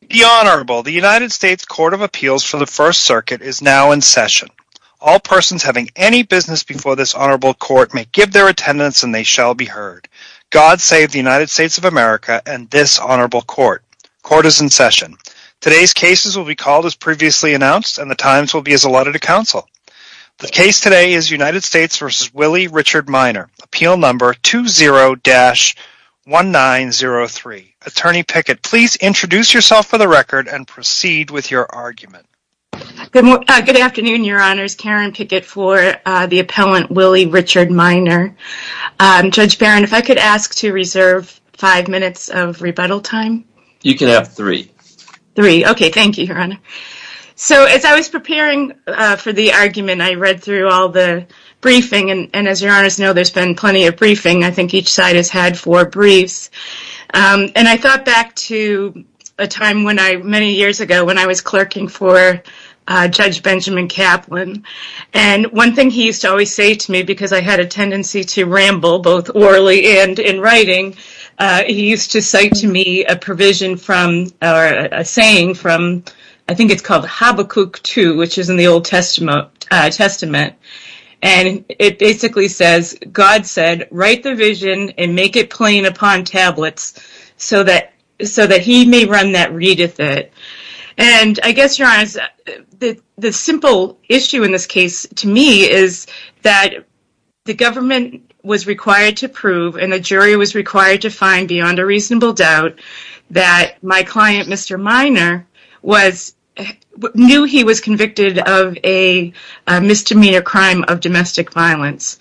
The United States Court of Appeals for the First Circuit is now in session. All persons having any business before this honorable court may give their attendance and they shall be heard. God save the United States of America and this honorable court. Court is in session. Today's cases will be called as previously announced and the times will be as allotted to counsel. The case today is United States v. Willie Richard Minor. Appeal number 20-1903. Attorney Pickett, please introduce yourself for the record and proceed with your argument. Good afternoon, your honors. Karen Pickett for the appellant Willie Richard Minor. Judge Barron, if I could ask to reserve five minutes of rebuttal time? You can have three. Three. Okay, thank you, your honor. So as I was preparing for the argument, I read through all the briefing and as your honors know, there's been plenty of briefing. I think each side has had four briefs. And I thought back to a time many years ago when I was clerking for Judge Benjamin Kaplan and one thing he used to always say to me because I had a tendency to ramble both orally and in writing. He used to cite to me a provision from, or a saying from, I think it's called Habakkuk 2, which is in the Old Testament. And it basically says, God said, write the vision and make it plain upon tablets so that he may run that readeth it. And I guess, your honors, the simple issue in this case to me is that the government was required to prove and the jury was required to find beyond a reasonable doubt that my client, Mr. Minor, knew he was convicted of a misdemeanor crime of domestic violence.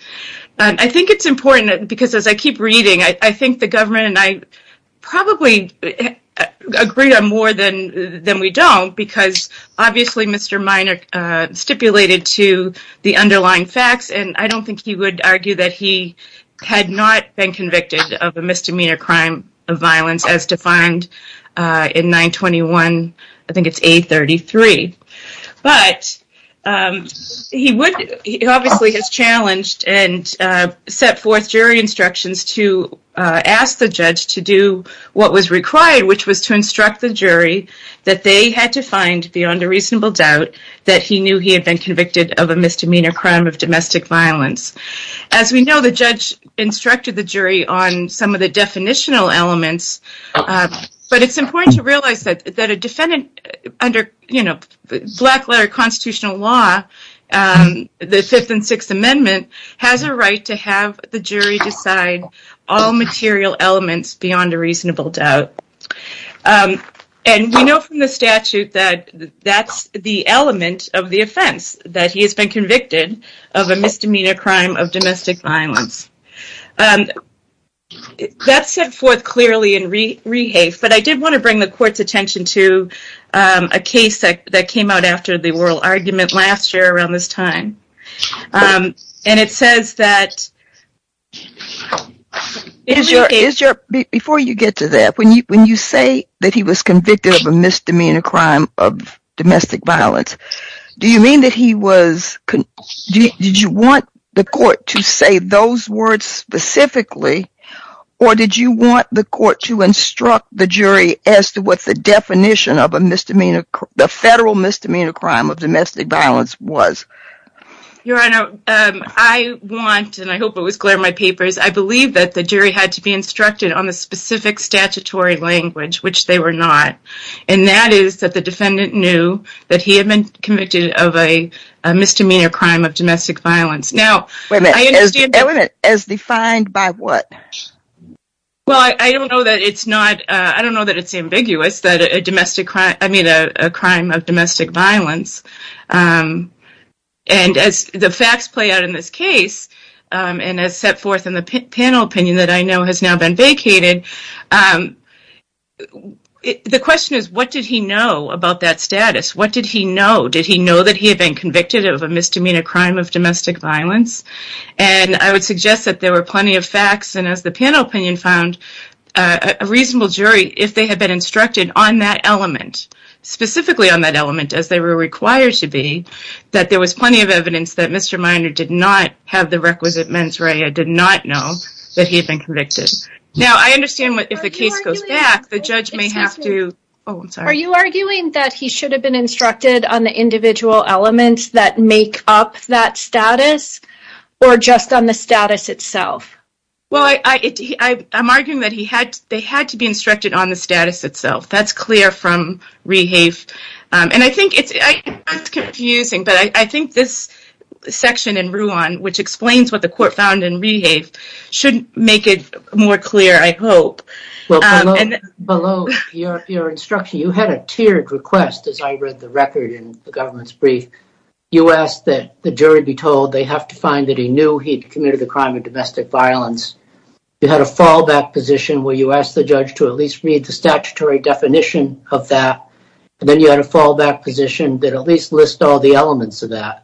I think it's important because as I keep reading, I think the government and I probably agree on more than we don't because obviously Mr. Minor stipulated to the underlying facts and I don't think he would argue that he had not been convicted of a misdemeanor crime of violence as defined in 921, I think it's 833. But he obviously has challenged and set forth jury instructions to ask the judge to do what was required, which was to instruct the jury that they had to find beyond a reasonable doubt that he knew he had been convicted of a misdemeanor crime of domestic violence. As we know, the judge instructed the jury on some of the definitional elements, but it's important to realize that a defendant under black letter constitutional law, the 5th and 6th Amendment, has a right to have the jury decide all material elements beyond a reasonable doubt. And we know from the statute that that's the element of the offense, that he has been convicted of a misdemeanor crime of domestic violence. That's set forth clearly in Rehafe, but I did want to bring the court's attention to a case that came out after the oral argument last year around this time. And it says that... Before you get to that, when you say that he was convicted of a misdemeanor crime of domestic violence, do you mean that he was... Your Honor, I want, and I hope it was clear in my papers, I believe that the jury had to be instructed on the specific statutory language, which they were not. And that is that the defendant knew that he had been convicted of a misdemeanor crime of domestic violence. Wait a minute, as defined by what? Well, I don't know that it's not, I don't know that it's ambiguous that a domestic crime, I mean a crime of domestic violence. And as the facts play out in this case, and as set forth in the panel opinion that I know has now been vacated, the question is, what did he know about that status? What did he know? Did he know that he had been convicted of a misdemeanor crime of domestic violence? And I would suggest that there were plenty of facts, and as the panel opinion found, a reasonable jury, if they had been instructed on that element, specifically on that element, as they were required to be, that there was plenty of evidence that Mr. Minor did not have the requisite mens rea, did not know that he had been convicted. Now, I understand if the case goes back, the judge may have to, oh, I'm sorry. Are you arguing that he should have been instructed on the individual elements that make up that status, or just on the status itself? Well, I'm arguing that they had to be instructed on the status itself. That's clear from Rehave. And I think it's confusing, but I think this section in Ruan, which explains what the court found in Rehave, should make it more clear, I hope. Well, below your instruction, you had a tiered request, as I read the record in the government's brief. You asked that the jury be told they have to find that he knew he'd committed the crime of domestic violence. You had a fallback position where you asked the judge to at least read the statutory definition of that. And then you had a fallback position that at least lists all the elements of that.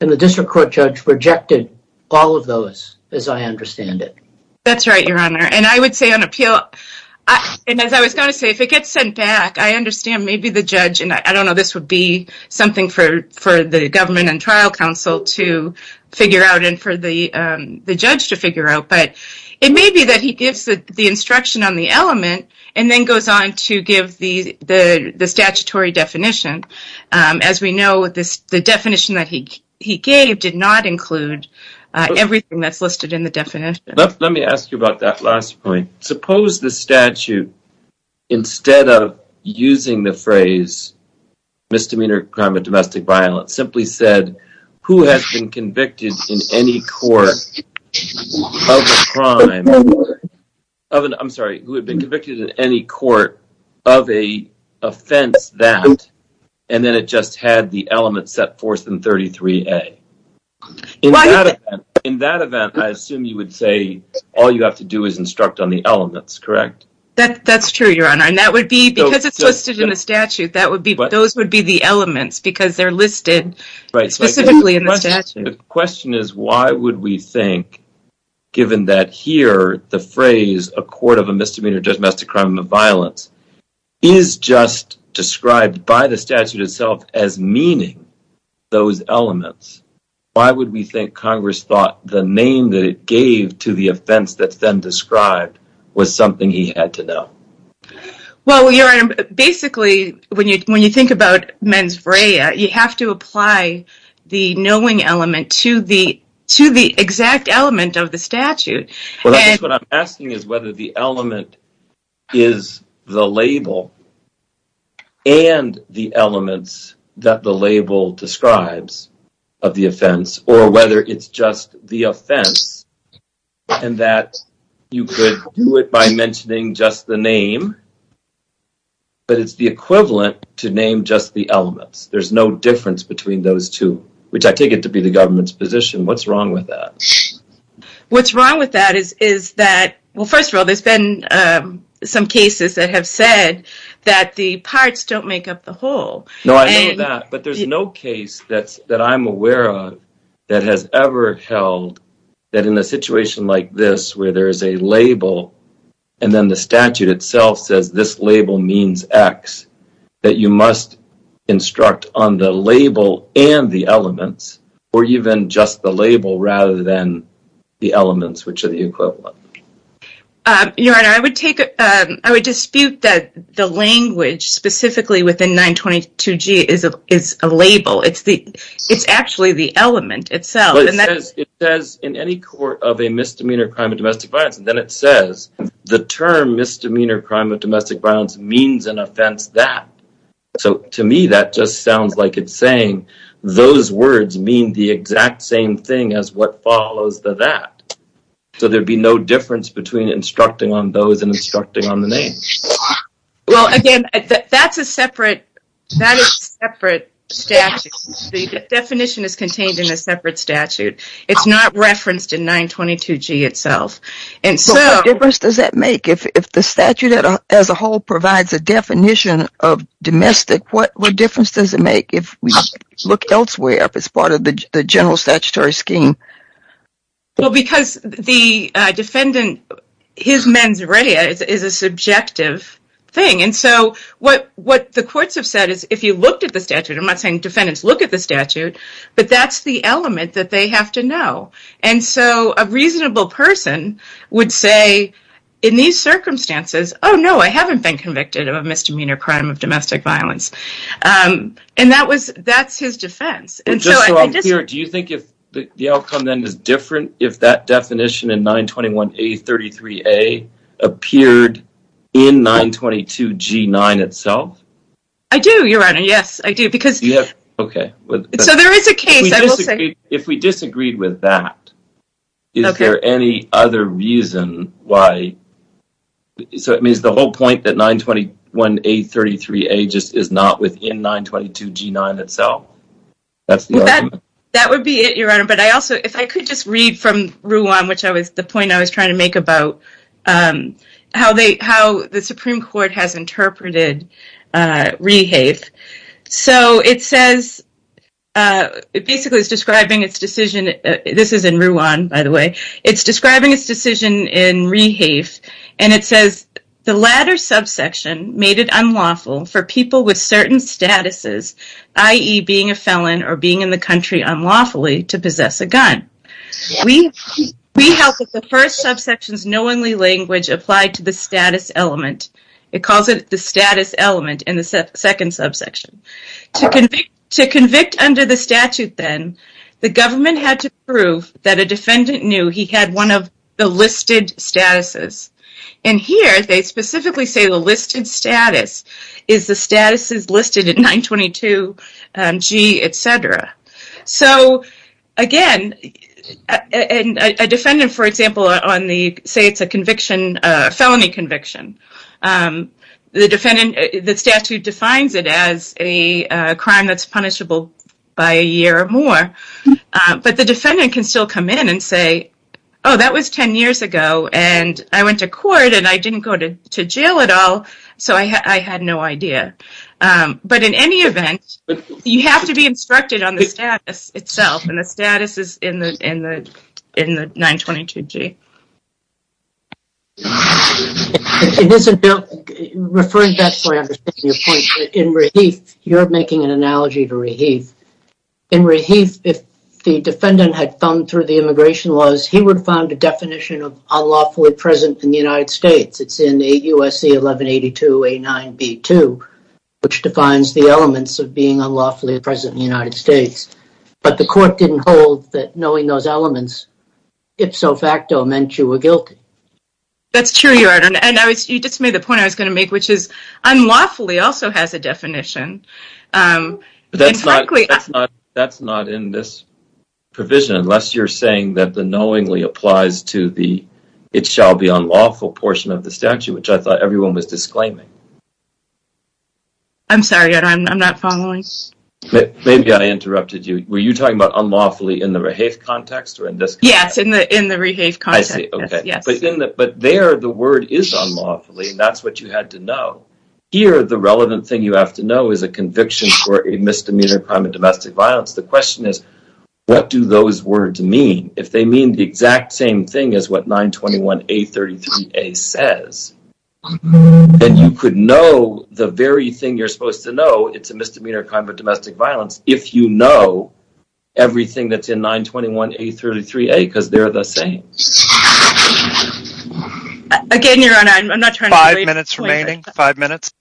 And the district court judge rejected all of those, as I understand it. That's right, Your Honor. And I would say on appeal, and as I was going to say, if it gets sent back, I understand maybe the judge, and I don't know, this would be something for the government and trial counsel to figure out and for the judge to figure out, but it may be that he gives the instruction on the element and then goes on to give the statutory definition. As we know, the definition that he gave did not include everything that's listed in the definition. Let me ask you about that last point. Suppose the statute, instead of using the phrase, misdemeanor crime of domestic violence, simply said, who has been convicted in any court of a crime, I'm sorry, who had been convicted in any court of an offense that, and then it just had the element set forth in 33A. In that event, I assume you would say all you have to do is instruct on the elements, correct? That's true, Your Honor. And that would be, because it's listed in the statute, those would be the elements, because they're listed specifically in the statute. The question is, why would we think, given that here, the phrase, a court of a misdemeanor, domestic crime of violence, is just described by the statute itself as meaning those elements, why would we think Congress thought the name that it gave to the offense that's then described was something he had to know? Well, Your Honor, basically, when you think about mens vrea, you have to apply the knowing element to the exact element of the statute. What I'm asking is whether the element is the label and the elements that the label describes of the offense, or whether it's just the offense, and that you could do it by mentioning just the name, but it's the equivalent to name just the elements. There's no difference between those two, which I take it to be the government's position. What's wrong with that? What's wrong with that is that, well, first of all, there's been some cases that have said that the parts don't make up the whole. No, I know that, but there's no case that I'm aware of that has ever held that in a situation like this, where there is a label, and then the statute itself says this label means X, that you must instruct on the label and the elements, or even just the label rather than the elements, which are the equivalent. Your Honor, I would dispute that the language, specifically within 922G, is a label. It's actually the element itself. It says, in any court of a misdemeanor crime of domestic violence, then it says, the term misdemeanor crime of domestic violence means an offense that. So to me, that just sounds like it's saying those words mean the exact same thing as what follows the that. So there'd be no difference between instructing on those and instructing on the name. Well, again, that's a separate statute. The definition is contained in a separate statute. It's not referenced in 922G itself. What difference does that make? If the statute as a whole provides a definition of domestic, what difference does it make if we look elsewhere, if it's part of the general statutory scheme? Well, because the defendant, his mens rea is a subjective thing. And so what the courts have said is, if you looked at the statute, I'm not saying defendants look at the statute, but that's the element that they have to know. And so a reasonable person would say, in these circumstances, oh, no, I haven't been convicted of a misdemeanor crime of domestic violence. And that's his defense. Do you think the outcome then is different if that definition in 921A33A appeared in 922G9 itself? I do, Your Honor. Yes, I do. So there is a case, I will say. If we disagreed with that, is there any other reason why? So it means the whole point that 921A33A just is not within 922G9 itself? That's the argument? That would be it, Your Honor. But I also, if I could just read from Rouen, which was the point I was trying to make about how the Supreme Court has interpreted rehafe. So it says, it basically is describing its decision. This is in Rouen, by the way. It's describing its decision in rehafe, and it says, the latter subsection made it unlawful for people with certain statuses, i.e. being a felon or being in the country unlawfully, to possess a gun. We held that the first subsection's knowingly language applied to the status element. It calls it the status element in the second subsection. To convict under the statute then, the government had to prove that a defendant knew he had one of the listed statuses. And here, they specifically say the listed status is the statuses listed in 922G, etc. So, again, a defendant, for example, say it's a felony conviction, the statute defines it as a crime that's punishable by a year or more, but the defendant can still come in and say, oh, that was 10 years ago, and I went to court, and I didn't go to jail at all, so I had no idea. But in any event, you have to be instructed on the status itself, and the status is in the 922G. Referring back to my understanding of your point, in Reheath, you're making an analogy to Reheath. In Reheath, if the defendant had thumbed through the immigration laws, he would have found a definition of unlawfully present in the United States. It's in 8 U.S.C. 1182A9B2, which defines the elements of being unlawfully present in the United States. But the court didn't hold that knowing those elements, ipso facto, meant you were guilty. That's true. You just made the point I was going to make, which is unlawfully also has a definition. That's not in this provision, unless you're saying that the knowingly applies to the it shall be unlawful portion of the statute, which I thought everyone was disclaiming. I'm sorry. I'm not following. Maybe I interrupted you. Were you talking about unlawfully in the Reheath context? Yes, in the Reheath context. But there, the word is unlawfully, and that's what you had to know. Here, the relevant thing you have to know is a conviction for a misdemeanor crime of domestic violence. The question is, what do those words mean? If they mean the exact same thing as what 921A33A says, then you could know the very thing you're supposed to know, it's a misdemeanor crime of domestic violence, if you know everything that's in 921A33A, because they're the same. Again, Your Honor, I'm not trying to… Five minutes remaining. Five minutes.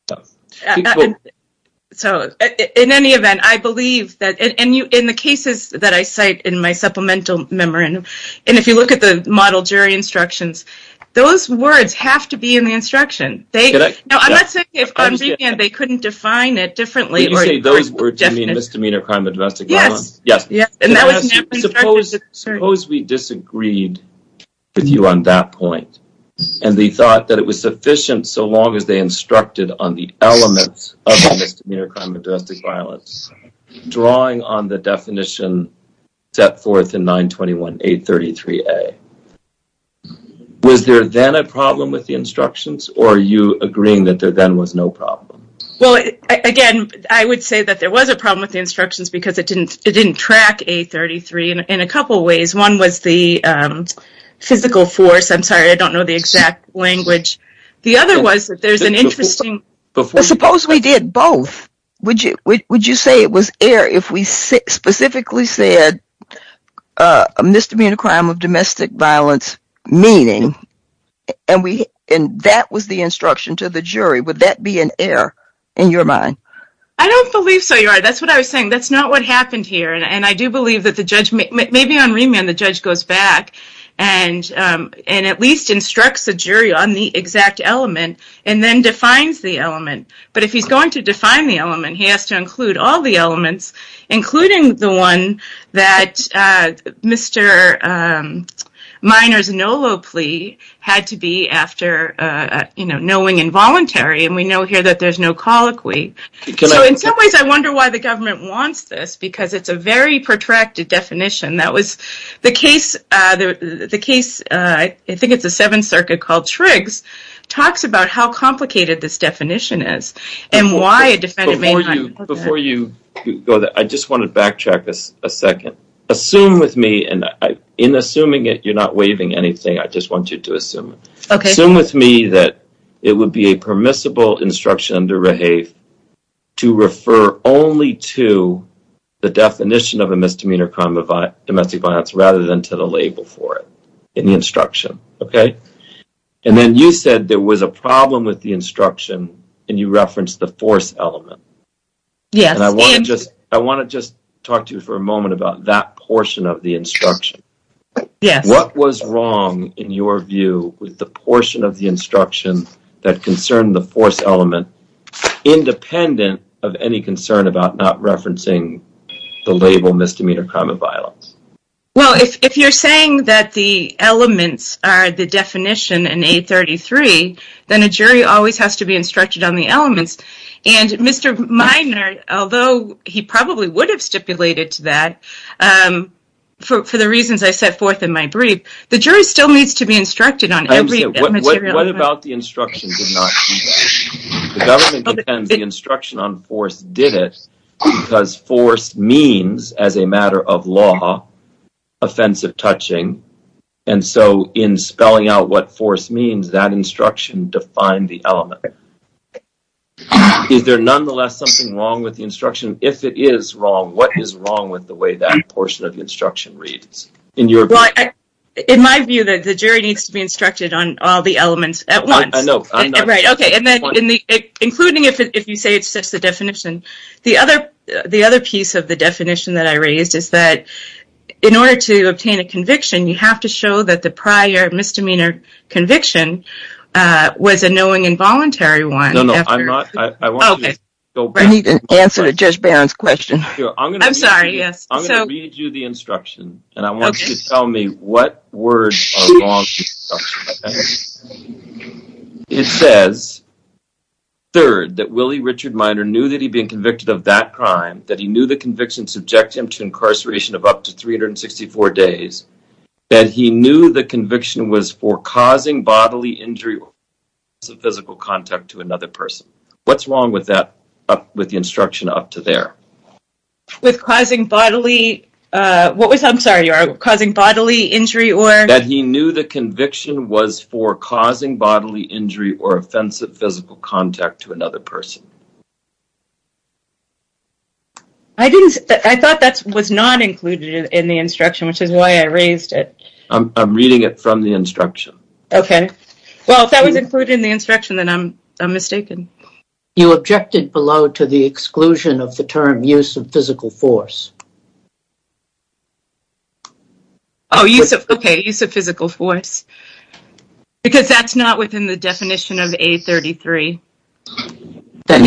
So, in any event, I believe that, and in the cases that I cite in my supplemental memorandum, and if you look at the model jury instructions, those words have to be in the instruction. Now, I'm not saying that they couldn't define it differently. You say those words mean misdemeanor crime of domestic violence? Yes. Suppose we disagreed with you on that point, and they thought that it was sufficient, so long as they instructed on the elements of a misdemeanor crime of domestic violence, drawing on the definition set forth in 921A33A. Was there then a problem with the instructions, or are you agreeing that there then was no problem? Well, again, I would say that there was a problem with the instructions because it didn't track A33 in a couple ways. One was the physical force. I'm sorry, I don't know the exact language. The other was that there's an interesting… Suppose we did both. Would you say it was error if we specifically said a misdemeanor crime of domestic violence meaning, and that was the instruction to the jury? I don't believe so, Your Honor. That's what I was saying. That's not what happened here, and I do believe that maybe on remand the judge goes back and at least instructs the jury on the exact element and then defines the element. But if he's going to define the element, he has to include all the elements, including the one that Mr. Miner's NOLO plea had to be after knowing involuntary, and we know here that there's no colloquy. So in some ways I wonder why the government wants this because it's a very protracted definition. The case, I think it's the Seventh Circuit called Triggs, talks about how complicated this definition is and why a defendant may not… Before you go there, I just want to backtrack a second. Assume with me, and in assuming it you're not waiving anything. I just want you to assume. Okay. Assume with me that it would be a permissible instruction to refer only to the definition of a misdemeanor crime of domestic violence rather than to the label for it in the instruction, okay? And then you said there was a problem with the instruction and you referenced the force element. And I want to just talk to you for a moment about that portion of the instruction. What was wrong in your view with the portion of the instruction that concerned the force element independent of any concern about not referencing the label misdemeanor crime of violence? Well, if you're saying that the elements are the definition in 833, then a jury always has to be instructed on the elements. And Mr. Minor, although he probably would have stipulated to that, for the reasons I set forth in my brief, the jury still needs to be instructed on every material element. What about the instruction did not do that? The government defends the instruction on force did it because force means, as a matter of law, offensive touching. And so in spelling out what force means, that instruction defined the element. Is there nonetheless something wrong with the instruction? If it is wrong, what is wrong with the way that portion of the instruction reads? In my view, the jury needs to be instructed on all the elements at once. Including if you say it's just the definition. The other piece of the definition that I raised is that in order to obtain a conviction, you have to show that the prior misdemeanor conviction was a knowing involuntary one. I need an answer to Judge Barron's question. I'm sorry. I'm going to read you the instruction. And I want you to tell me what words are wrong with the instruction. It says, Third, that Willie Richard Minor knew that he'd been convicted of that crime, that he knew the conviction subjected him to incarceration of up to 364 days, that he knew the conviction was for causing bodily injury or loss of physical contact to another person. What's wrong with the instruction up to there? With causing bodily... What was... I'm sorry. Causing bodily injury or... That he knew the conviction was for causing bodily injury or offensive physical contact to another person. I thought that was not included in the instruction, which is why I raised it. I'm reading it from the instruction. Okay. Well, if that was included in the instruction, then I'm mistaken. You objected below to the exclusion of the term use of physical force. Oh, use of... Okay. Use of physical force. Because that's not within the definition of A33. That,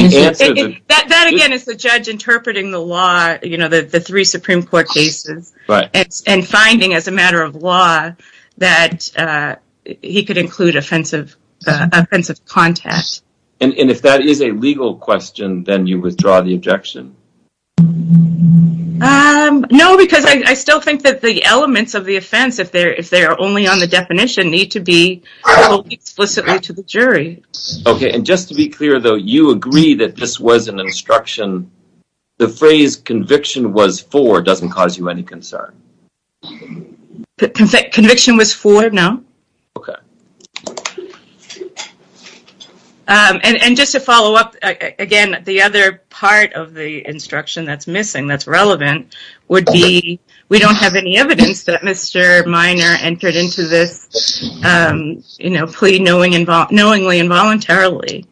again, is the judge interpreting the law, you know, the three Supreme Court cases. Right. And finding, as a matter of law, that he could include offensive contact. Yes. And if that is a legal question, then you withdraw the objection. No, because I still think that the elements of the offense, if they're only on the definition, need to be told explicitly to the jury. Okay. And just to be clear, though, you agree that this was an instruction. The phrase conviction was for doesn't cause you any concern. Conviction was for, no. Okay. And just to follow up, again, the other part of the instruction that's missing, that's relevant, would be we don't have any evidence that Mr. Minor entered into this, you know, plea knowingly and voluntarily.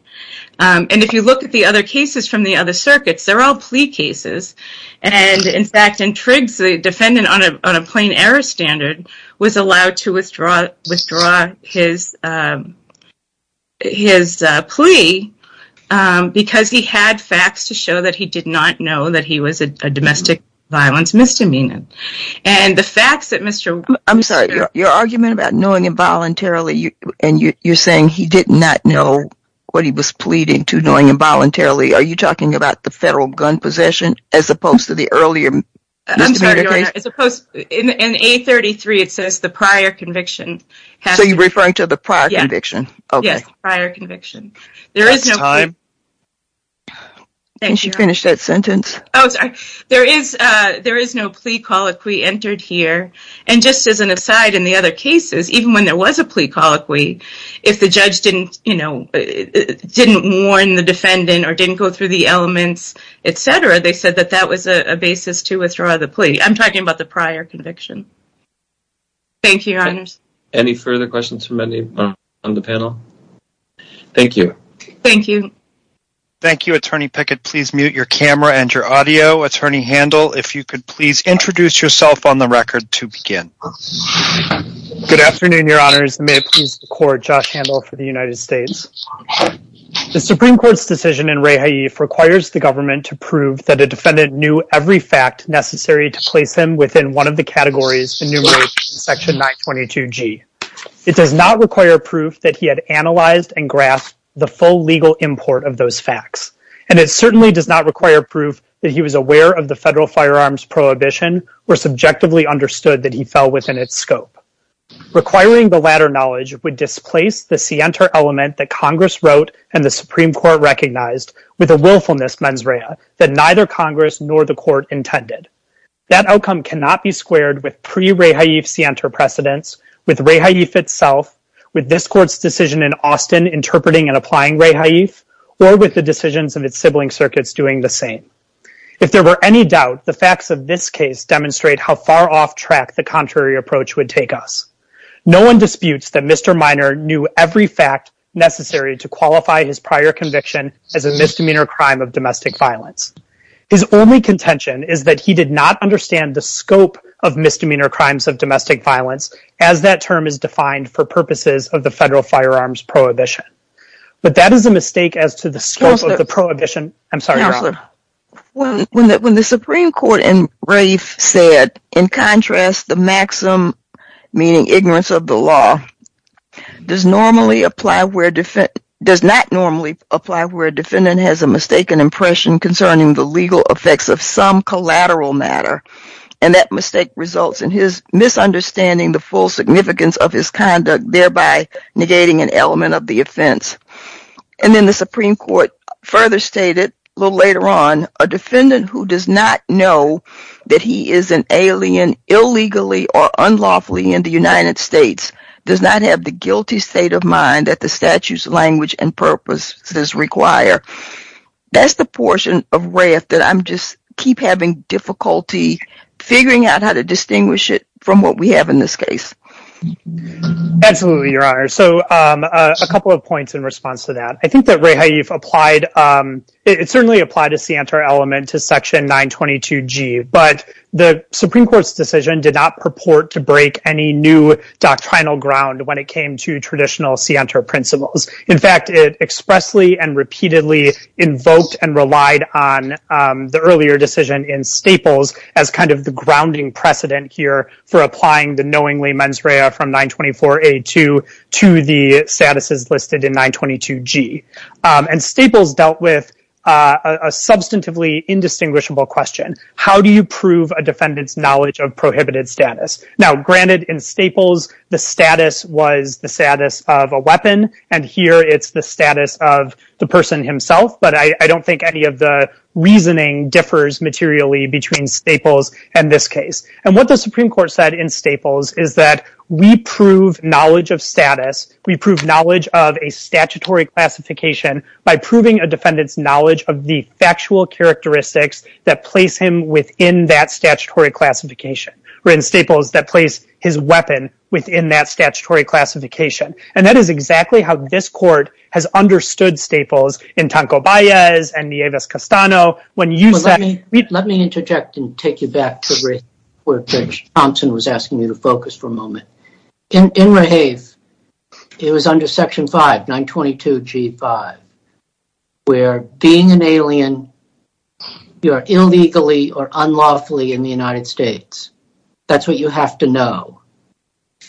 And if you look at the other cases from the other circuits, they're all plea cases. And, in fact, in Triggs, the defendant on a plain error standard was allowed to withdraw his plea because he had facts to show that he did not know that he was a domestic violence misdemeanor. And the facts that Mr. Minor... I'm sorry. Your argument about knowing involuntarily, and you're saying he did not know what he was pleading to knowing involuntarily, are you talking about the federal gun possession as opposed to the earlier misdemeanor case? I'm sorry, Your Honor. As opposed... In A33, it says the prior conviction. So you're referring to the prior conviction. Yes, prior conviction. There is no... Can you finish that sentence? Oh, sorry. There is no plea colloquy entered here. And just as an aside, in the other cases, even when there was a plea colloquy, if the judge didn't warn the defendant or didn't go through the elements, et cetera, they said that that was a basis to withdraw the plea. I'm talking about the prior conviction. Thank you, Your Honors. Any further questions from anyone on the panel? Thank you. Thank you. Thank you, Attorney Pickett. Please mute your camera and your audio. Attorney Handel, if you could please introduce yourself on the record to begin. Good afternoon, Your Honors. May it please the Court, Josh Handel for the United States. The Supreme Court's decision in Rehaif requires the government to prove that a defendant knew every fact necessary to place him within one of the categories enumerated in Section 922G. It does not require proof that he had analyzed and grasped the full legal import of those facts. And it certainly does not require proof that he was aware of the federal firearms prohibition or subjectively understood that he fell within its scope. Requiring the latter knowledge would displace the scienter element that Congress wrote and the Supreme Court recognized with a willfulness mens rea that neither Congress nor the Court intended. That outcome cannot be squared with pre-Rehaif scienter precedence, with Rehaif itself, with this Court's decision in Austin interpreting and applying Rehaif, or with the decisions of its sibling circuits doing the same. If there were any doubt, the facts of this case demonstrate how far off track the contrary approach would take us. No one disputes that Mr. Minor knew every fact necessary to qualify his prior conviction as a misdemeanor crime of domestic violence. His only contention is that he did not understand the scope of misdemeanor crimes of domestic violence as that term is defined for purposes of the federal firearms prohibition. But that is a mistake as to the scope of the prohibition. I'm sorry, Your Honor. When the Supreme Court and Rehaif said, in contrast, the maxim meaning ignorance of the law, does not normally apply where a defendant has a mistaken impression concerning the legal effects of some collateral matter, and that mistake results in his misunderstanding the full significance of his conduct, thereby negating an element of the offense. And then the Supreme Court further stated, a little later on, a defendant who does not know that he is an alien illegally or unlawfully in the United States does not have the guilty state of mind that the statute's language and purposes require. That's the portion of Rehaif that I'm just, keep having difficulty figuring out how to distinguish it from what we have in this case. Absolutely, Your Honor. So a couple of points in response to that. I think that Rehaif applied, it certainly applied a scienter element to section 922G, but the Supreme Court's decision did not purport to break any new doctrinal ground when it came to traditional scienter principles. In fact, it expressly and repeatedly invoked and relied on the earlier decision in Staples as kind of the grounding precedent here for applying the knowingly mens rea from 924A2 to the statuses listed in 922G. And Staples dealt with How do you prove a defendant's knowledge of prohibited status? Now, granted in Staples, the status was the status of a weapon, and here it's the status of the person himself, but I don't think any of the reasoning differs materially between Staples and this case. And what the Supreme Court said in Staples is that we prove knowledge of status, we prove knowledge of a statutory classification by proving a defendant's knowledge of the factual characteristics that place him within that statutory classification, or in Staples, that place his weapon within that statutory classification. And that is exactly how this court has understood Staples in Tancoballes and Nieves-Castano. Let me interject and take you back to where Judge Thompson was asking you to focus for a moment. In Rehave, it was under section 5, 922G5, where being an alien, you are illegally or unlawfully in the United States. That's what you have to know.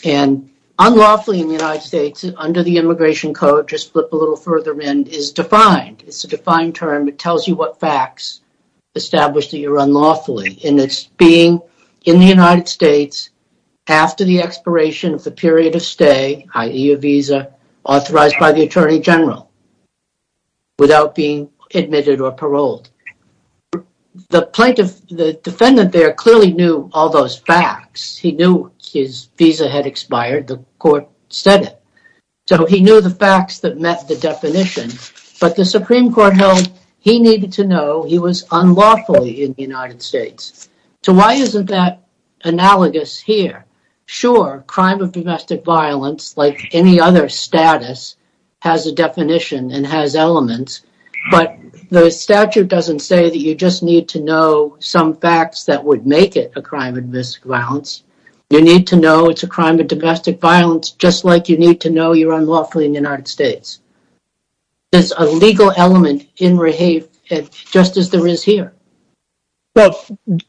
And unlawfully in the United States, under the Immigration Code, just flip a little further in, is defined. It's a defined term. It tells you what facts establish that you're unlawfully. And it's being in the United States after the expiration of the period of stay, i.e. a visa, authorized by the Attorney General, without being admitted or paroled. The defendant there clearly knew all those facts. He knew his visa had expired. The court said it. So he knew the facts that met the definition. But the Supreme Court held he needed to know he was unlawfully in the United States. So why isn't that analogous here? Sure, crime of domestic violence, like any other status, has a definition and has elements. But the statute doesn't say that you just need to know some facts that would make it a crime of domestic violence. You need to know it's a crime of domestic violence, just like you need to know you're unlawfully in the United States. There's a legal element in Rehave, just as there is here. Well,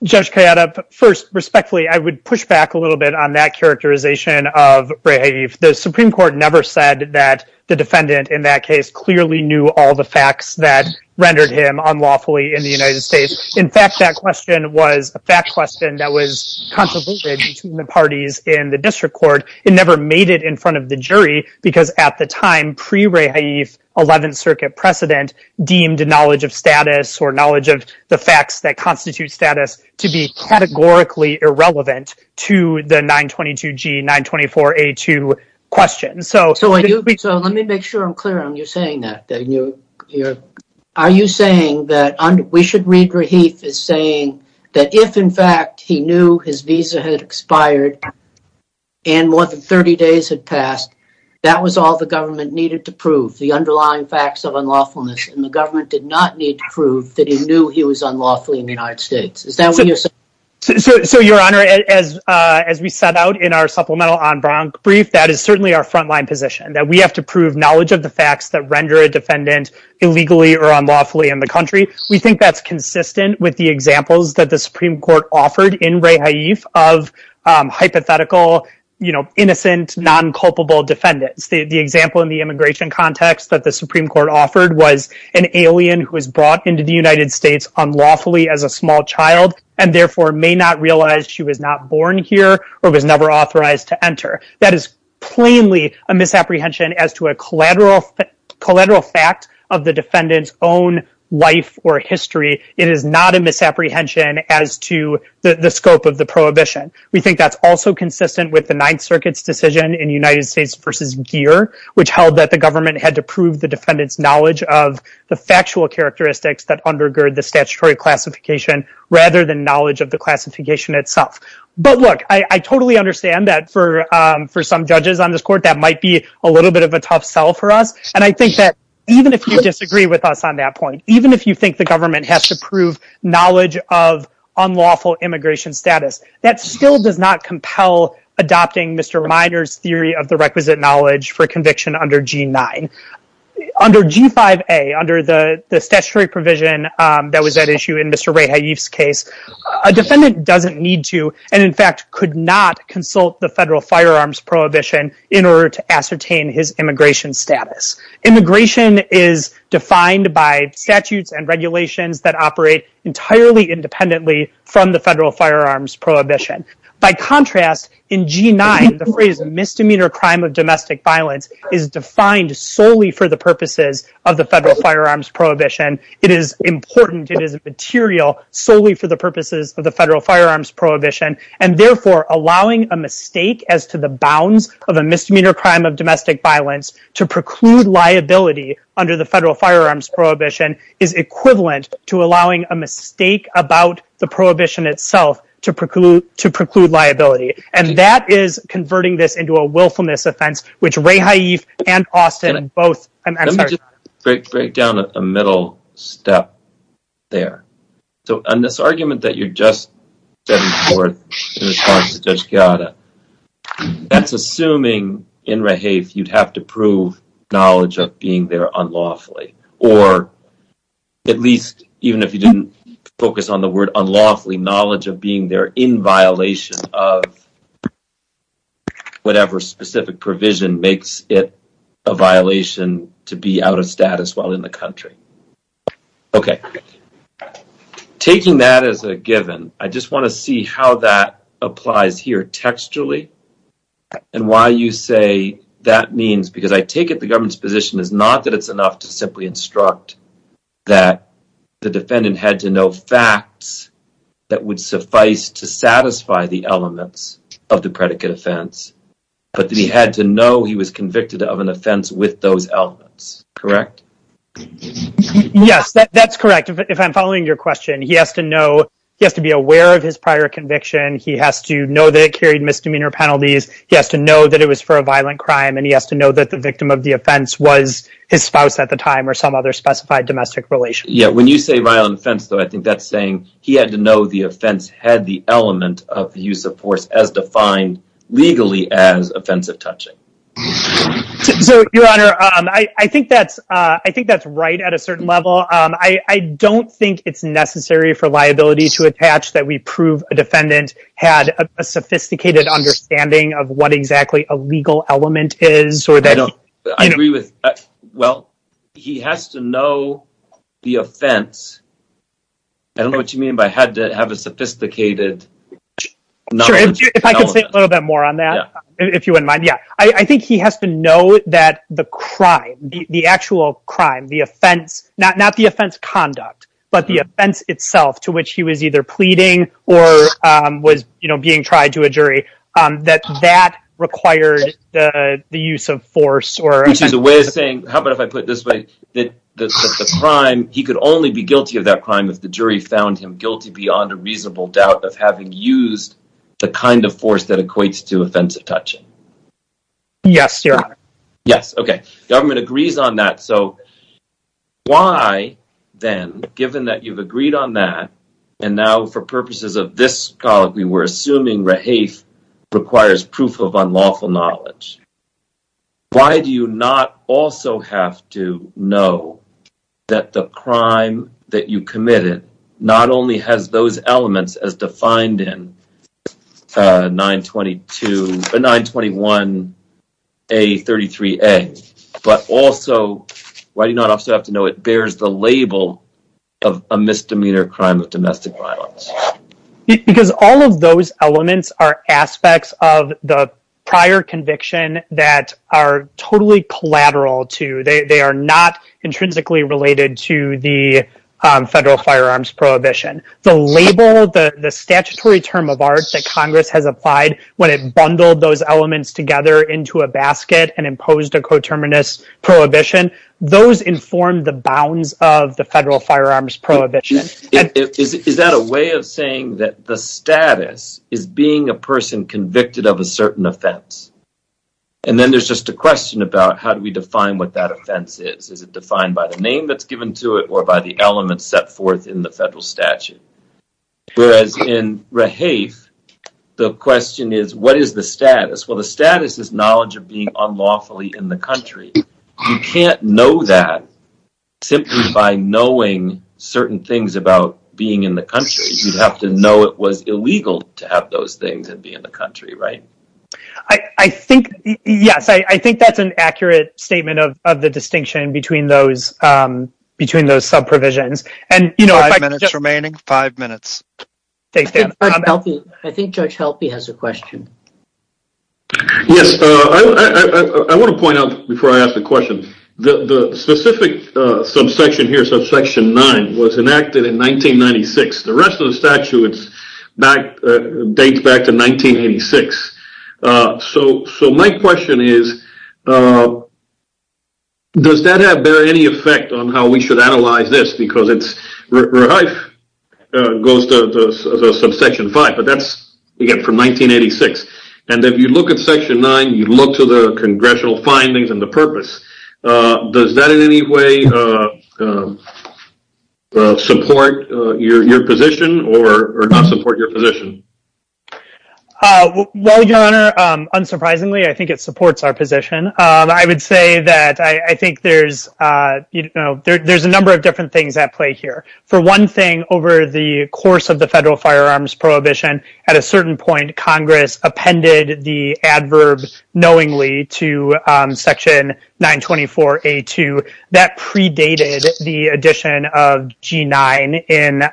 Judge Kayada, first, respectfully, I would push back a little bit on that characterization of Rehave. The Supreme Court never said that the defendant in that case clearly knew all the facts that rendered him unlawfully in the United States. In fact, that question was a fact question that was controversial between the parties in the district court. It never made it in front of the jury because at the time, pre-Rehave 11th Circuit precedent deemed knowledge of status or knowledge of the facts that constitute status to be categorically irrelevant to the 922G, 924A2 question. So let me make sure I'm clear on you saying that. Are you saying that we should read Rehave as saying that if, in fact, he knew his visa had expired and more than 30 days had passed, that was all the government needed to prove, the underlying facts of unlawfulness, and the government did not need to prove that he knew he was unlawfully in the United States. Is that what you're saying? So, Your Honor, as we set out in our supplemental en branc brief, that is certainly our frontline position, that we have to prove knowledge of the facts that render a defendant illegally or unlawfully in the country. We think that's consistent with the examples that the Supreme Court offered in Rehave of hypothetical, innocent, non-culpable defendants. The example in the immigration context that the Supreme Court offered was an alien who was brought into the United States unlawfully as a small child, and therefore may not realize she was not born here or was never authorized to enter. That is plainly a misapprehension as to a collateral fact of the defendant's own life or history. It is not a misapprehension as to the scope of the prohibition. We think that's also consistent with the Ninth Circuit's decision in United States v. Gere, which held that the government had to prove the defendant's knowledge of the factual characteristics that undergird the statutory classification rather than knowledge of the classification itself. But look, I totally understand that for some judges on this court, that might be a little bit of a tough sell for us. And I think that even if you disagree with us on that point, even if you think the government has to prove knowledge of unlawful immigration status, that still does not compel adopting Mr. Minor's theory of the requisite knowledge for conviction under G9. Under G5A, under the statutory provision that was at issue in Mr. Ray Haif's case, a defendant doesn't need to, and in fact could not, consult the federal firearms prohibition in order to ascertain his immigration status. Immigration is defined by statutes and regulations that operate entirely independently from the federal firearms prohibition. By contrast, in G9, the phrase, misdemeanor crime of domestic violence, is defined solely for the purposes of the federal firearms prohibition. It is important. It is material solely for the purposes of the federal firearms prohibition. And therefore, allowing a mistake as to the bounds of a misdemeanor crime of domestic violence to preclude liability under the federal firearms prohibition is equivalent to allowing a mistake about the prohibition itself to preclude liability. And that is converting this into a willfulness offense, which Ray Haif and Austin Let me just break down a middle step there. So, on this argument that you're just setting forth in response to Judge Chiara, that's assuming, in Ray Haif, you'd have to prove knowledge of being there unlawfully. Or, at least, even if you didn't focus on the word unlawfully, knowledge of being there in violation of whatever specific provision makes it a violation to be out of status while in the country. Okay. Taking that as a given, I just want to see how that applies here textually and why you say that means, because I take it the government's position is not that it's enough to simply instruct that the defendant had to know facts that would suffice to satisfy the elements of the predicate offense, but that he had to know he was convicted of an offense with those elements. Correct? Yes, that's correct. If I'm following your question, he has to know, he has to be aware of his prior conviction, he has to know that it carried misdemeanor penalties, he has to know that it was for a violent crime, and he has to know that the victim of the offense was his spouse at the time or some other specified domestic relation. Yeah, when you say violent offense, though, I think that's saying he had to know the offense had the element of the use of force as defined legally as offensive touching. So, Your Honor, I think that's right at a certain level. I don't think it's necessary for liability to attach that we prove a defendant had a sophisticated understanding of what exactly a legal element is. I agree with, well, he has to know the offense, I don't know what you mean by had to have a sophisticated knowledge of the element. Sure, if I could say a little bit more on that, if you wouldn't mind, yeah. I think he has to know that the crime, the actual crime, the offense, not the offense conduct, but the offense itself to which he was either pleading or was being tried to a jury, that that required the use of force. Which is a way of saying, how about if I put it this way, that the crime, he could only be guilty of that crime if the jury found him guilty beyond a reasonable doubt of having used the kind of force that equates to offensive touching. Yes, Your Honor. Yes, okay. Government agrees on that, so, why then, given that you've agreed on that, and now for purposes of this colloquy, we're assuming Rahafe requires proof of unlawful knowledge, why do you not also have to know that the crime that you committed not only has those elements as defined in 921A33A, but also, why do you not also have to know it bears the label of a misdemeanor crime of domestic violence? Because all of those elements are aspects of the prior conviction that are totally collateral to, they are not intrinsically related to the federal firearms prohibition. The label, the statutory term of art that Congress has applied when it bundled those elements together into a basket and imposed a coterminous prohibition, those inform the bounds of the federal firearms prohibition. Is that a way of saying that the status is being a person convicted of a certain offense? And then there's just a question about how do we define what that offense is? Is it defined by the name that's given to it, or by the elements set forth in the federal statute? Whereas in Rahafe, the question is, what is the status? Well, the status is knowledge of being unlawfully in the country. You can't know that simply by knowing certain things about being in the country. You'd have to know it was illegal to have those things and be in the country, right? I think, yes. I think that's an accurate statement of the distinction between those sub-provisions. Five minutes remaining. Five minutes. Thanks, Dan. I think Judge Helpe has a question. Yes. I want to point out before I ask the question, the specific subsection here, subsection nine, was enacted in 1996. The rest of the statute dates back to 1986. So my question is, does that have any effect on how we should analyze this? Rehife goes to the subsection five, but that's, again, from 1986. And if you look at section nine, you look to the congressional findings and the purpose. Does that in any way support your position or not support your position? Well, Your Honor, unsurprisingly, I think it supports our position. I would say that I think there's a number of different things at play here. For one thing, over the course of the federal firearms prohibition, at a certain point, Congress appended the adverb knowingly to section 924A2. That predated the addition of G9 in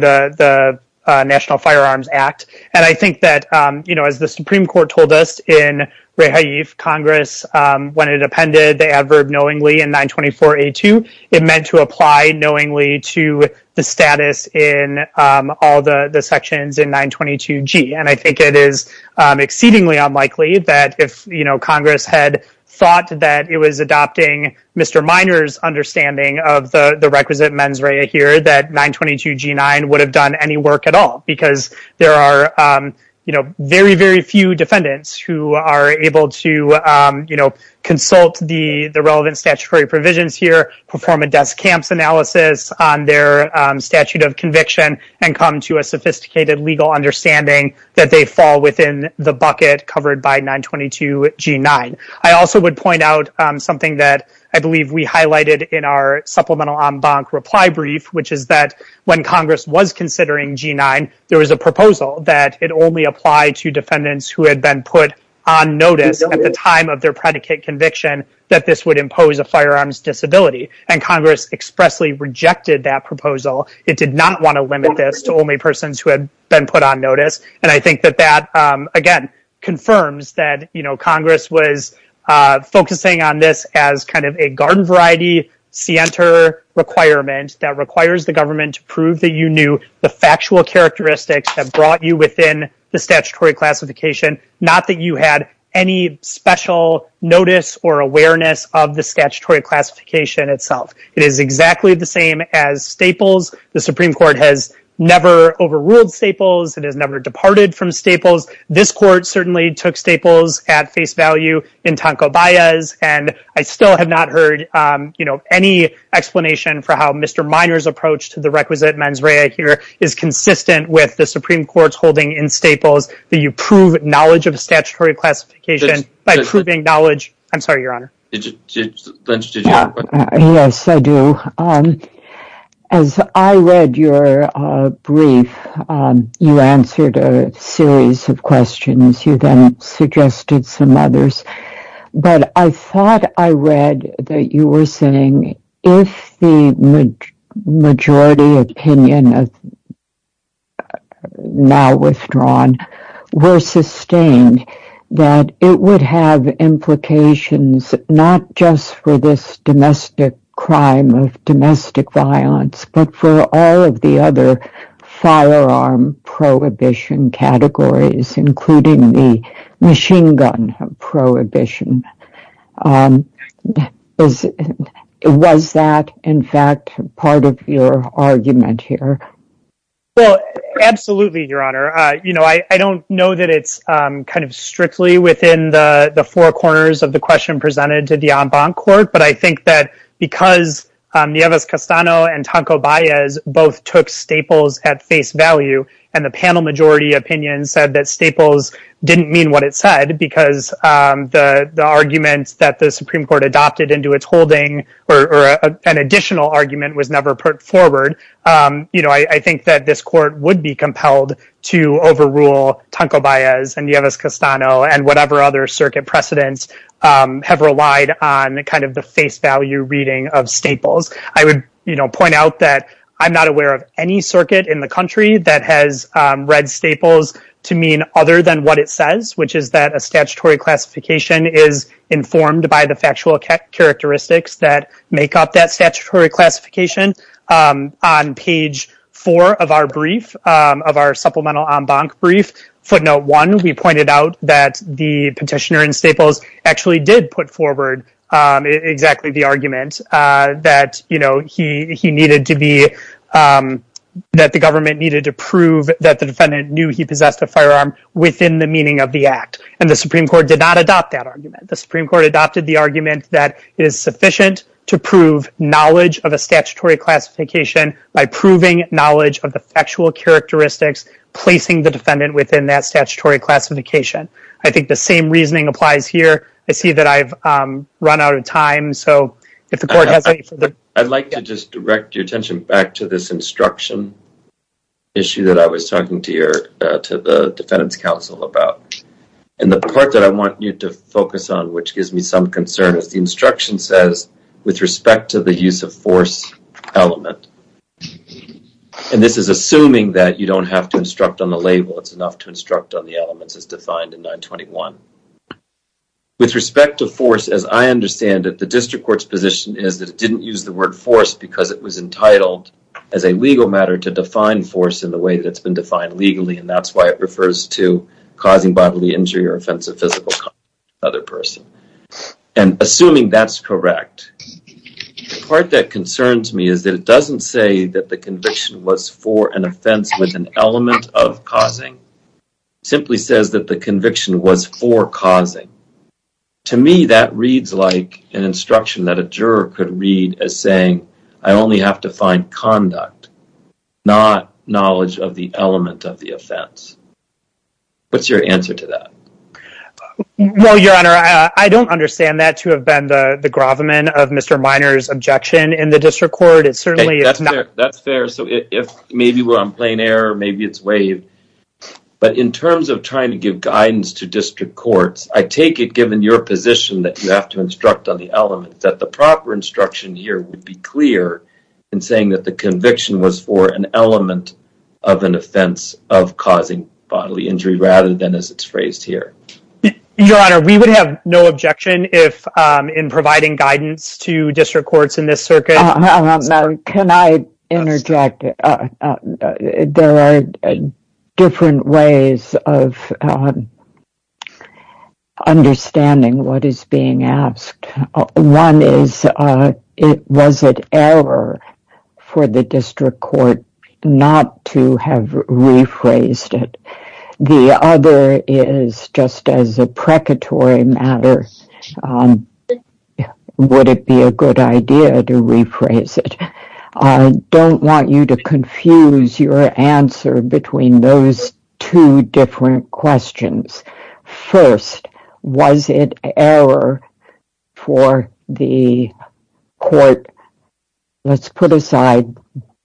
the National Firearms Act. And I think that, you know, as the Supreme Court told us in Rehife, Congress, when it appended the adverb knowingly in 924A2, it meant to apply knowingly to the status in all the sections in 922G. And I think it is exceedingly unlikely that if, you know, Congress had thought that it was adopting Mr. Minor's understanding of the requisite mens rea here that 922G9 would have done any work at all because there are, you know, very, very few defendants who are able to, you know, consult the relevant statutory provisions here, perform a desk camps analysis on their statute of conviction, and come to a sophisticated legal understanding that they fall within the bucket covered by 922G9. I also would point out something that I believe we highlighted in our supplemental en banc reply brief, which is that when Congress was considering G9, there was a proposal that it only applied to defendants who had been put on notice at the time of their predicate conviction that this would impose a firearms disability, and Congress expressly rejected that proposal. It did not want to limit this to only persons who had been put on notice, and I think that that, again, confirms that, you know, Congress was focusing on this as kind of a garden variety scienter requirement that requires the government to prove that you knew the factual characteristics that brought you within the statutory classification, not that you had any special notice or awareness of the statutory classification itself. It is exactly the same as Staples. The Supreme Court has never overruled Staples. It has never departed from Staples. This Court certainly took Staples at face value in Tanco Baez, and I still have not heard, you know, any explanation for how Mr. Minor's approach to the requisite mens rea here is consistent with the Supreme Court's holding in Staples that you prove knowledge of the statutory classification by proving knowledge... Sorry, Your Honor. Did you... Did you have a question? Yes, I do. As I read your brief, you answered a series of questions. You then suggested some others, but I thought I read that you were saying if the majority opinion of... now withdrawn were sustained, that it would have implications not just for this domestic crime of domestic violence, but for all of the other firearm prohibition categories, including the machine gun prohibition. Was that, in fact, part of your argument here? Well, absolutely, Your Honor. You know, I don't know that it's kind of strictly within the four corners of the question presented to the en banc court, but I think that because Nieves-Castano and Tonko-Baez both took Staples at face value and the panel majority opinion said that Staples didn't mean what it said because the argument that the Supreme Court adopted into its holding or an additional argument was never put forward, I think that this court would be compelled to overrule Tonko-Baez and Nieves-Castano and whatever other circuit precedents have relied on kind of the face value reading of Staples. I would, you know, point out that I'm not aware of any circuit in the country that has read Staples to mean other than what it says, which is that a statutory classification is informed by the factual characteristics that make up that statutory classification. On page four of our brief, of our supplemental en banc brief, footnote one, we pointed out that the petitioner Staples actually did put forward exactly the argument that, you know, he needed to be, that the government needed to prove that the defendant knew he possessed a firearm within the meaning of the act. And the Supreme Court did not adopt that argument. The Supreme Court adopted the argument that it is sufficient to prove knowledge of a statutory classification by proving knowledge of the factual characteristics placing the defendant within that statutory classification. I think the same reasoning applies here. I see that I've run out of time, so if the court has any further... I'd like to just direct your attention back to this instruction issue that I was talking to your, to the defendant's counsel about. And the part that I want you to focus on, which gives me some concern, is the instruction says, with respect to the use of force element, and this is assuming that you don't have to instruct on the label, it's enough to instruct on the elements as defined in 921. With respect to force, as I understand it, the district court's position is that it didn't use the word force because it was entitled as a legal matter to define force in the way that it's been defined legally, and that's why it refers to causing bodily injury or offensive physical contact with another person. And assuming that's correct, the part that concerns me is that it doesn't say that the conviction was for an offense with an element of causing. It simply says that the conviction was for causing. To me, that reads like an instruction that a juror could read as saying, I only have to find conduct, not knowledge of the element of the offense. What's your answer to that? Well, Your Honor, I don't understand that to have been the gravamen of Mr. Minor's objection in the district court. It certainly is not... That's fair. That's fair. So if maybe we're on plain error, maybe it's waived. But in terms of trying to give guidance to district courts, I take it, given your position that you have to instruct on the element, that the proper instruction here would be clear in saying that the conviction was for an element of an offense of causing bodily injury rather than as it's phrased here. Your Honor, we would have no objection if in providing guidance to district courts in this circuit... Can I interject? There are different ways of understanding what is being asked. One is, was it error for the district court not to have rephrased it? The other is, just as a precatory matter, would it be a good idea to rephrase it? I don't want you to confuse your answer between those two different questions. First, was it error for the court... Let's put aside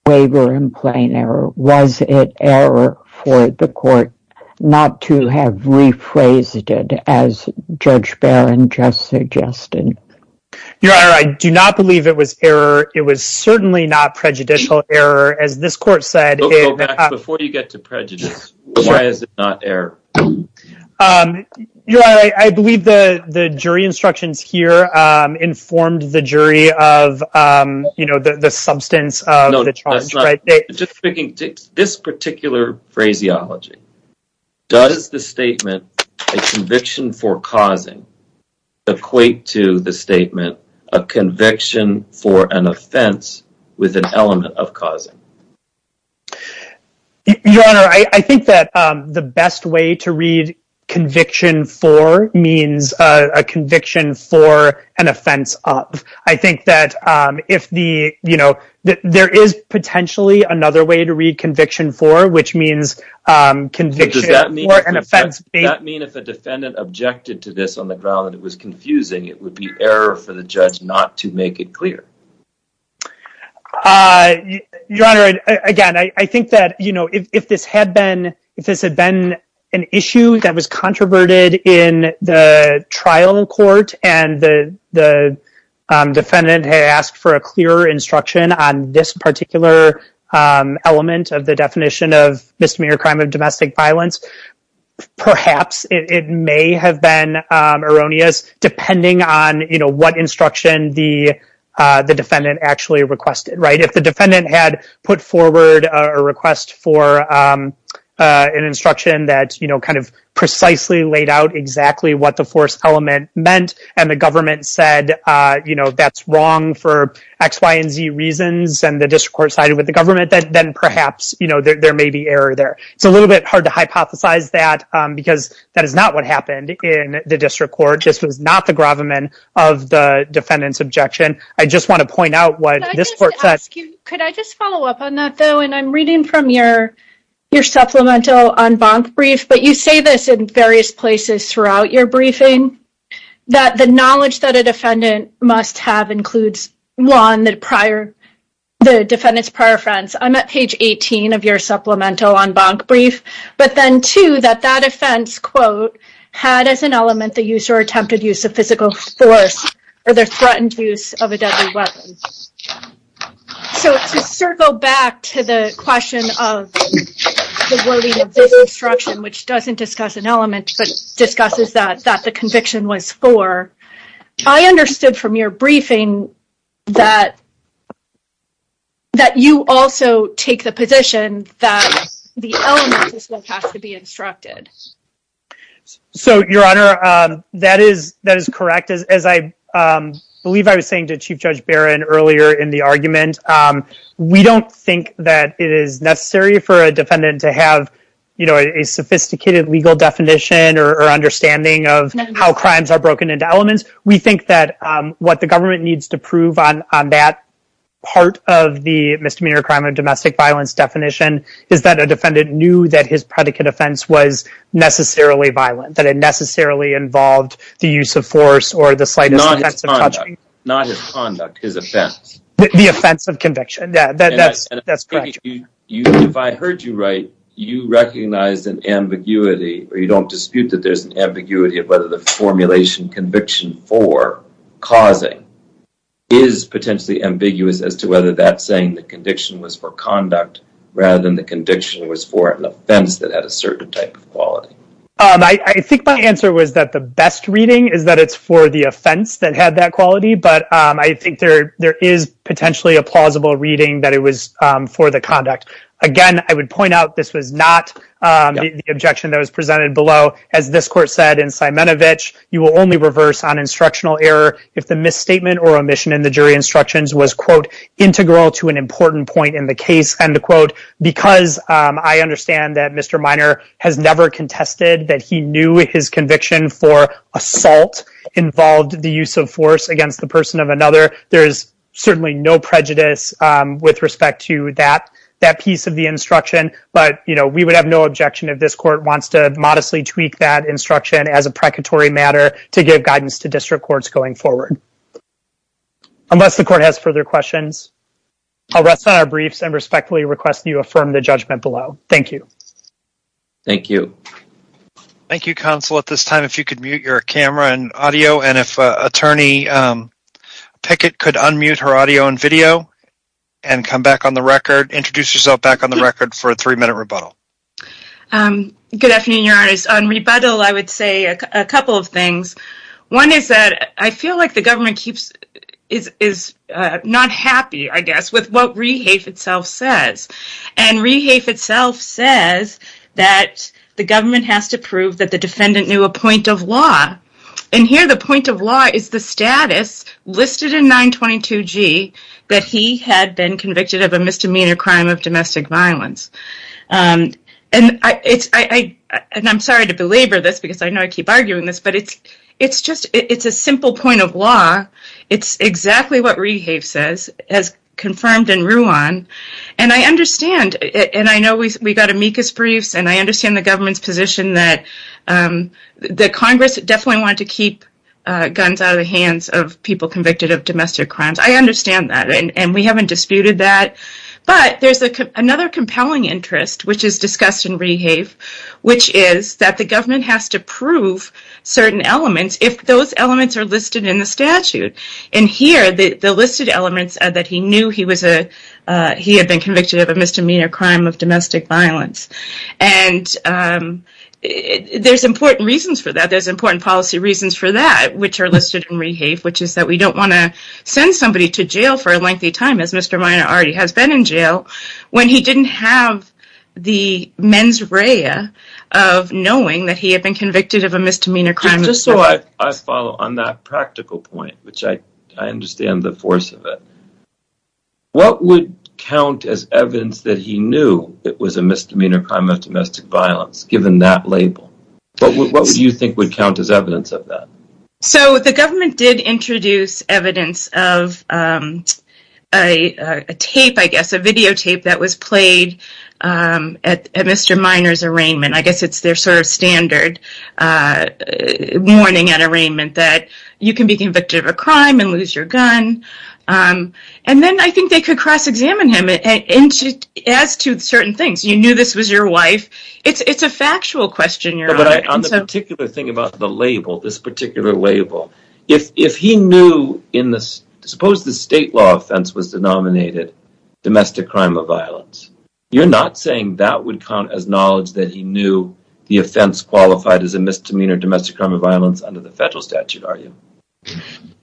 waiver and plain error. Was it error for the court not to have rephrased it as Judge Barron just suggested? Your Honor, I do not believe it was error. It was certainly not prejudicial error. As this court said... Before you get to prejudice, why is it not error? Your Honor, I believe the jury instructions here informed the jury of the substance of the charge. Just speaking, this particular phraseology, does the statement a conviction for causing equate to the statement a conviction for an offense with an element of causing? Your Honor, I think that the best way to read conviction for means a conviction for an offense of. I think that there is potentially another way to read conviction for, which means conviction for an offense... Does that mean if a defendant objected to this on the ground that it was confusing, it would be error for the judge not to make it clear? Your Honor, again, I think that if this had been an issue that was controverted in the trial court and the defendant had asked for a clearer instruction on this particular element of the definition of misdemeanor crime of domestic violence, perhaps it may have been erroneous depending on what instruction the defendant actually requested. If the defendant had put forward a request for an instruction that precisely laid out exactly what the forced element meant and the government said that's wrong for X, Y, and Z reasons and the district court sided with the government, then perhaps there may be error there. It's a little bit hard to hypothesize that because that is not what happened in the district court. This was not the gravamen of the defendant's objection. I just want to point out what this court said. Could I just follow up on that, though? And I'm reading from your supplemental en banc brief, but you say this in various places throughout your briefing that the knowledge that a defendant must have includes, one, the defendant's prior offense. I'm at page 18 of your supplemental en banc brief. But then, two, that that offense, quote, had as an element the use or attempted use of physical force or the threatened use of a deadly weapon. So, to circle back to the question of the wording of this instruction, which doesn't discuss an element, but discusses that the conviction was for, I understood from your briefing that you also take the position that the element is what has to be instructed. So, Your Honor, that is correct. As I believe I was saying to Chief Judge Barron earlier in the argument, we don't think that it is necessary for a defendant to have, you know, a sophisticated legal definition or understanding of how crimes are broken into elements. We think that what the government needs to prove on that part of the misdemeanor crime or domestic violence definition is that a defendant knew that his predicate offense was necessarily violent. That it necessarily involved the use of force or the slightest offense of touching. Not his conduct. His offense. The offense of conviction. That's correct. If I heard you right, you recognize an ambiguity, or you don't dispute that there's an ambiguity of whether the formulation conviction for causing is potentially ambiguous as to whether that's saying the conviction was for conduct rather than the conviction was for an offense that had a certain type of quality. I think my answer was that the best reading is that it's for the offense that had that quality, but I think there is potentially a plausible reading that it was for the conduct. Again, I would point out this was not the objection that was presented below. As this court said in Simonovich, you will only reverse on instructional error if the misstatement or omission in the jury instructions was, quote, integral to an important point in the case, end quote, because I understand that Mr. Minor has never contested that he knew his conviction for assault involved the use of force against the person of another. There is certainly no prejudice with respect to that piece of the instruction, but we would have no objection if this court wants to modestly tweak that instruction as a precatory matter to give guidance to district courts going forward. Unless the court has further questions, I'll rest on our briefs and respectfully request you affirm the judgment below. Thank you. Thank you. Thank you, Counsel. At this time, if you could mute your camera and audio, and if Attorney Pickett could unmute her audio and video and come back on the record, introduce yourself back on the record for a three-minute rebuttal. Good afternoon, Your Honor. On rebuttal, I would say a couple of things. One is that I feel like the government is not happy, I guess, with what REHAFE itself says. And REHAFE itself says that the government has to prove that the defendant knew a point of law. And here, the point of law is the status listed in 922G that he had been convicted of a misdemeanor crime of domestic violence. And I'm sorry to belabor this because I know I keep arguing this, but it's just a simple point of law. It's exactly what REHAFE says, as confirmed in Ruan. And I understand, and I know we got amicus briefs, and I understand the government's position that Congress definitely wanted to keep guns out of the hands of people convicted of domestic crimes. I understand that, and we haven't disputed that. But there's another compelling interest, which is discussed in REHAFE, which is that the government has to prove certain elements if those elements are listed in the statute. And here, the listed elements that he knew he had been convicted of a misdemeanor crime of domestic violence. And there's important reasons for that. There's important policy reasons for that, which are listed in REHAFE, which is that we don't want to send somebody to jail for a lengthy time, as Mr. Minor already has been in jail, when he didn't have the mens rea of knowing that he had been convicted of a misdemeanor crime of domestic violence. Just so I follow on that practical point, which I understand the force of it, what would count as evidence that he knew it was a misdemeanor crime of domestic violence, given that label? What do you think would count as evidence of that? So, the government did introduce evidence of a tape, I guess, a videotape that was played at Mr. Minor's arraignment. I guess it's their sort of standard warning at arraignment that you can be convicted of a crime and lose your gun. And then I think they could cross-examine him as to certain things. You knew this was your wife. It's a factual question. On the particular thing about the label, this particular label, if he knew, suppose the state law offense was denominated domestic crime of violence, you're not saying that would count as knowledge that he knew the offense qualified as a misdemeanor domestic crime of violence under the federal statute, are you?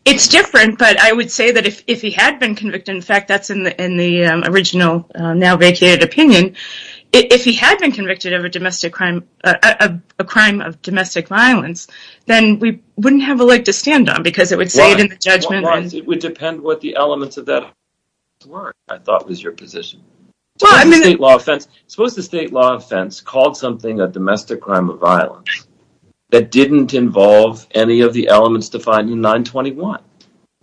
It's different, but I would say that if he had been convicted, in fact, that's in the original now vacated opinion, if he had been convicted of a domestic crime, a crime of domestic violence, then we wouldn't have a leg to stand on because it would say it in the judgment. It would depend what the elements of that offense were, I thought was your position. Suppose the state law offense called something a domestic crime of violence that didn't involve any of the elements defined in 921.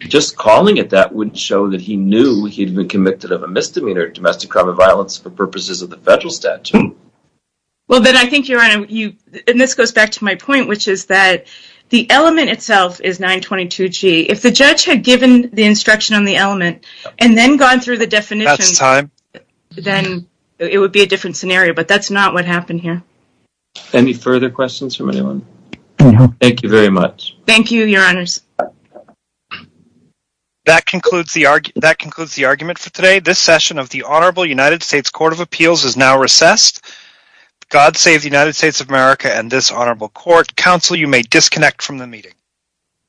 Just calling it that wouldn't show that he knew he'd been convicted of a misdemeanor domestic crime of violence for purposes of the federal statute. Well, then I think, Your Honor, and this goes back to my point, which is that the element itself is 922G. If the judge had given the instruction on the element and then gone through the definition, then it would be a different scenario, but that's not what happened here. Any further questions from anyone? No. Thank you very much. Thank you, Your Honors. That concludes the argument for today. This session of the Honorable United States Court of Appeals is now recessed. God save the United States of America and this honorable court. Counsel, you may disconnect from the meeting.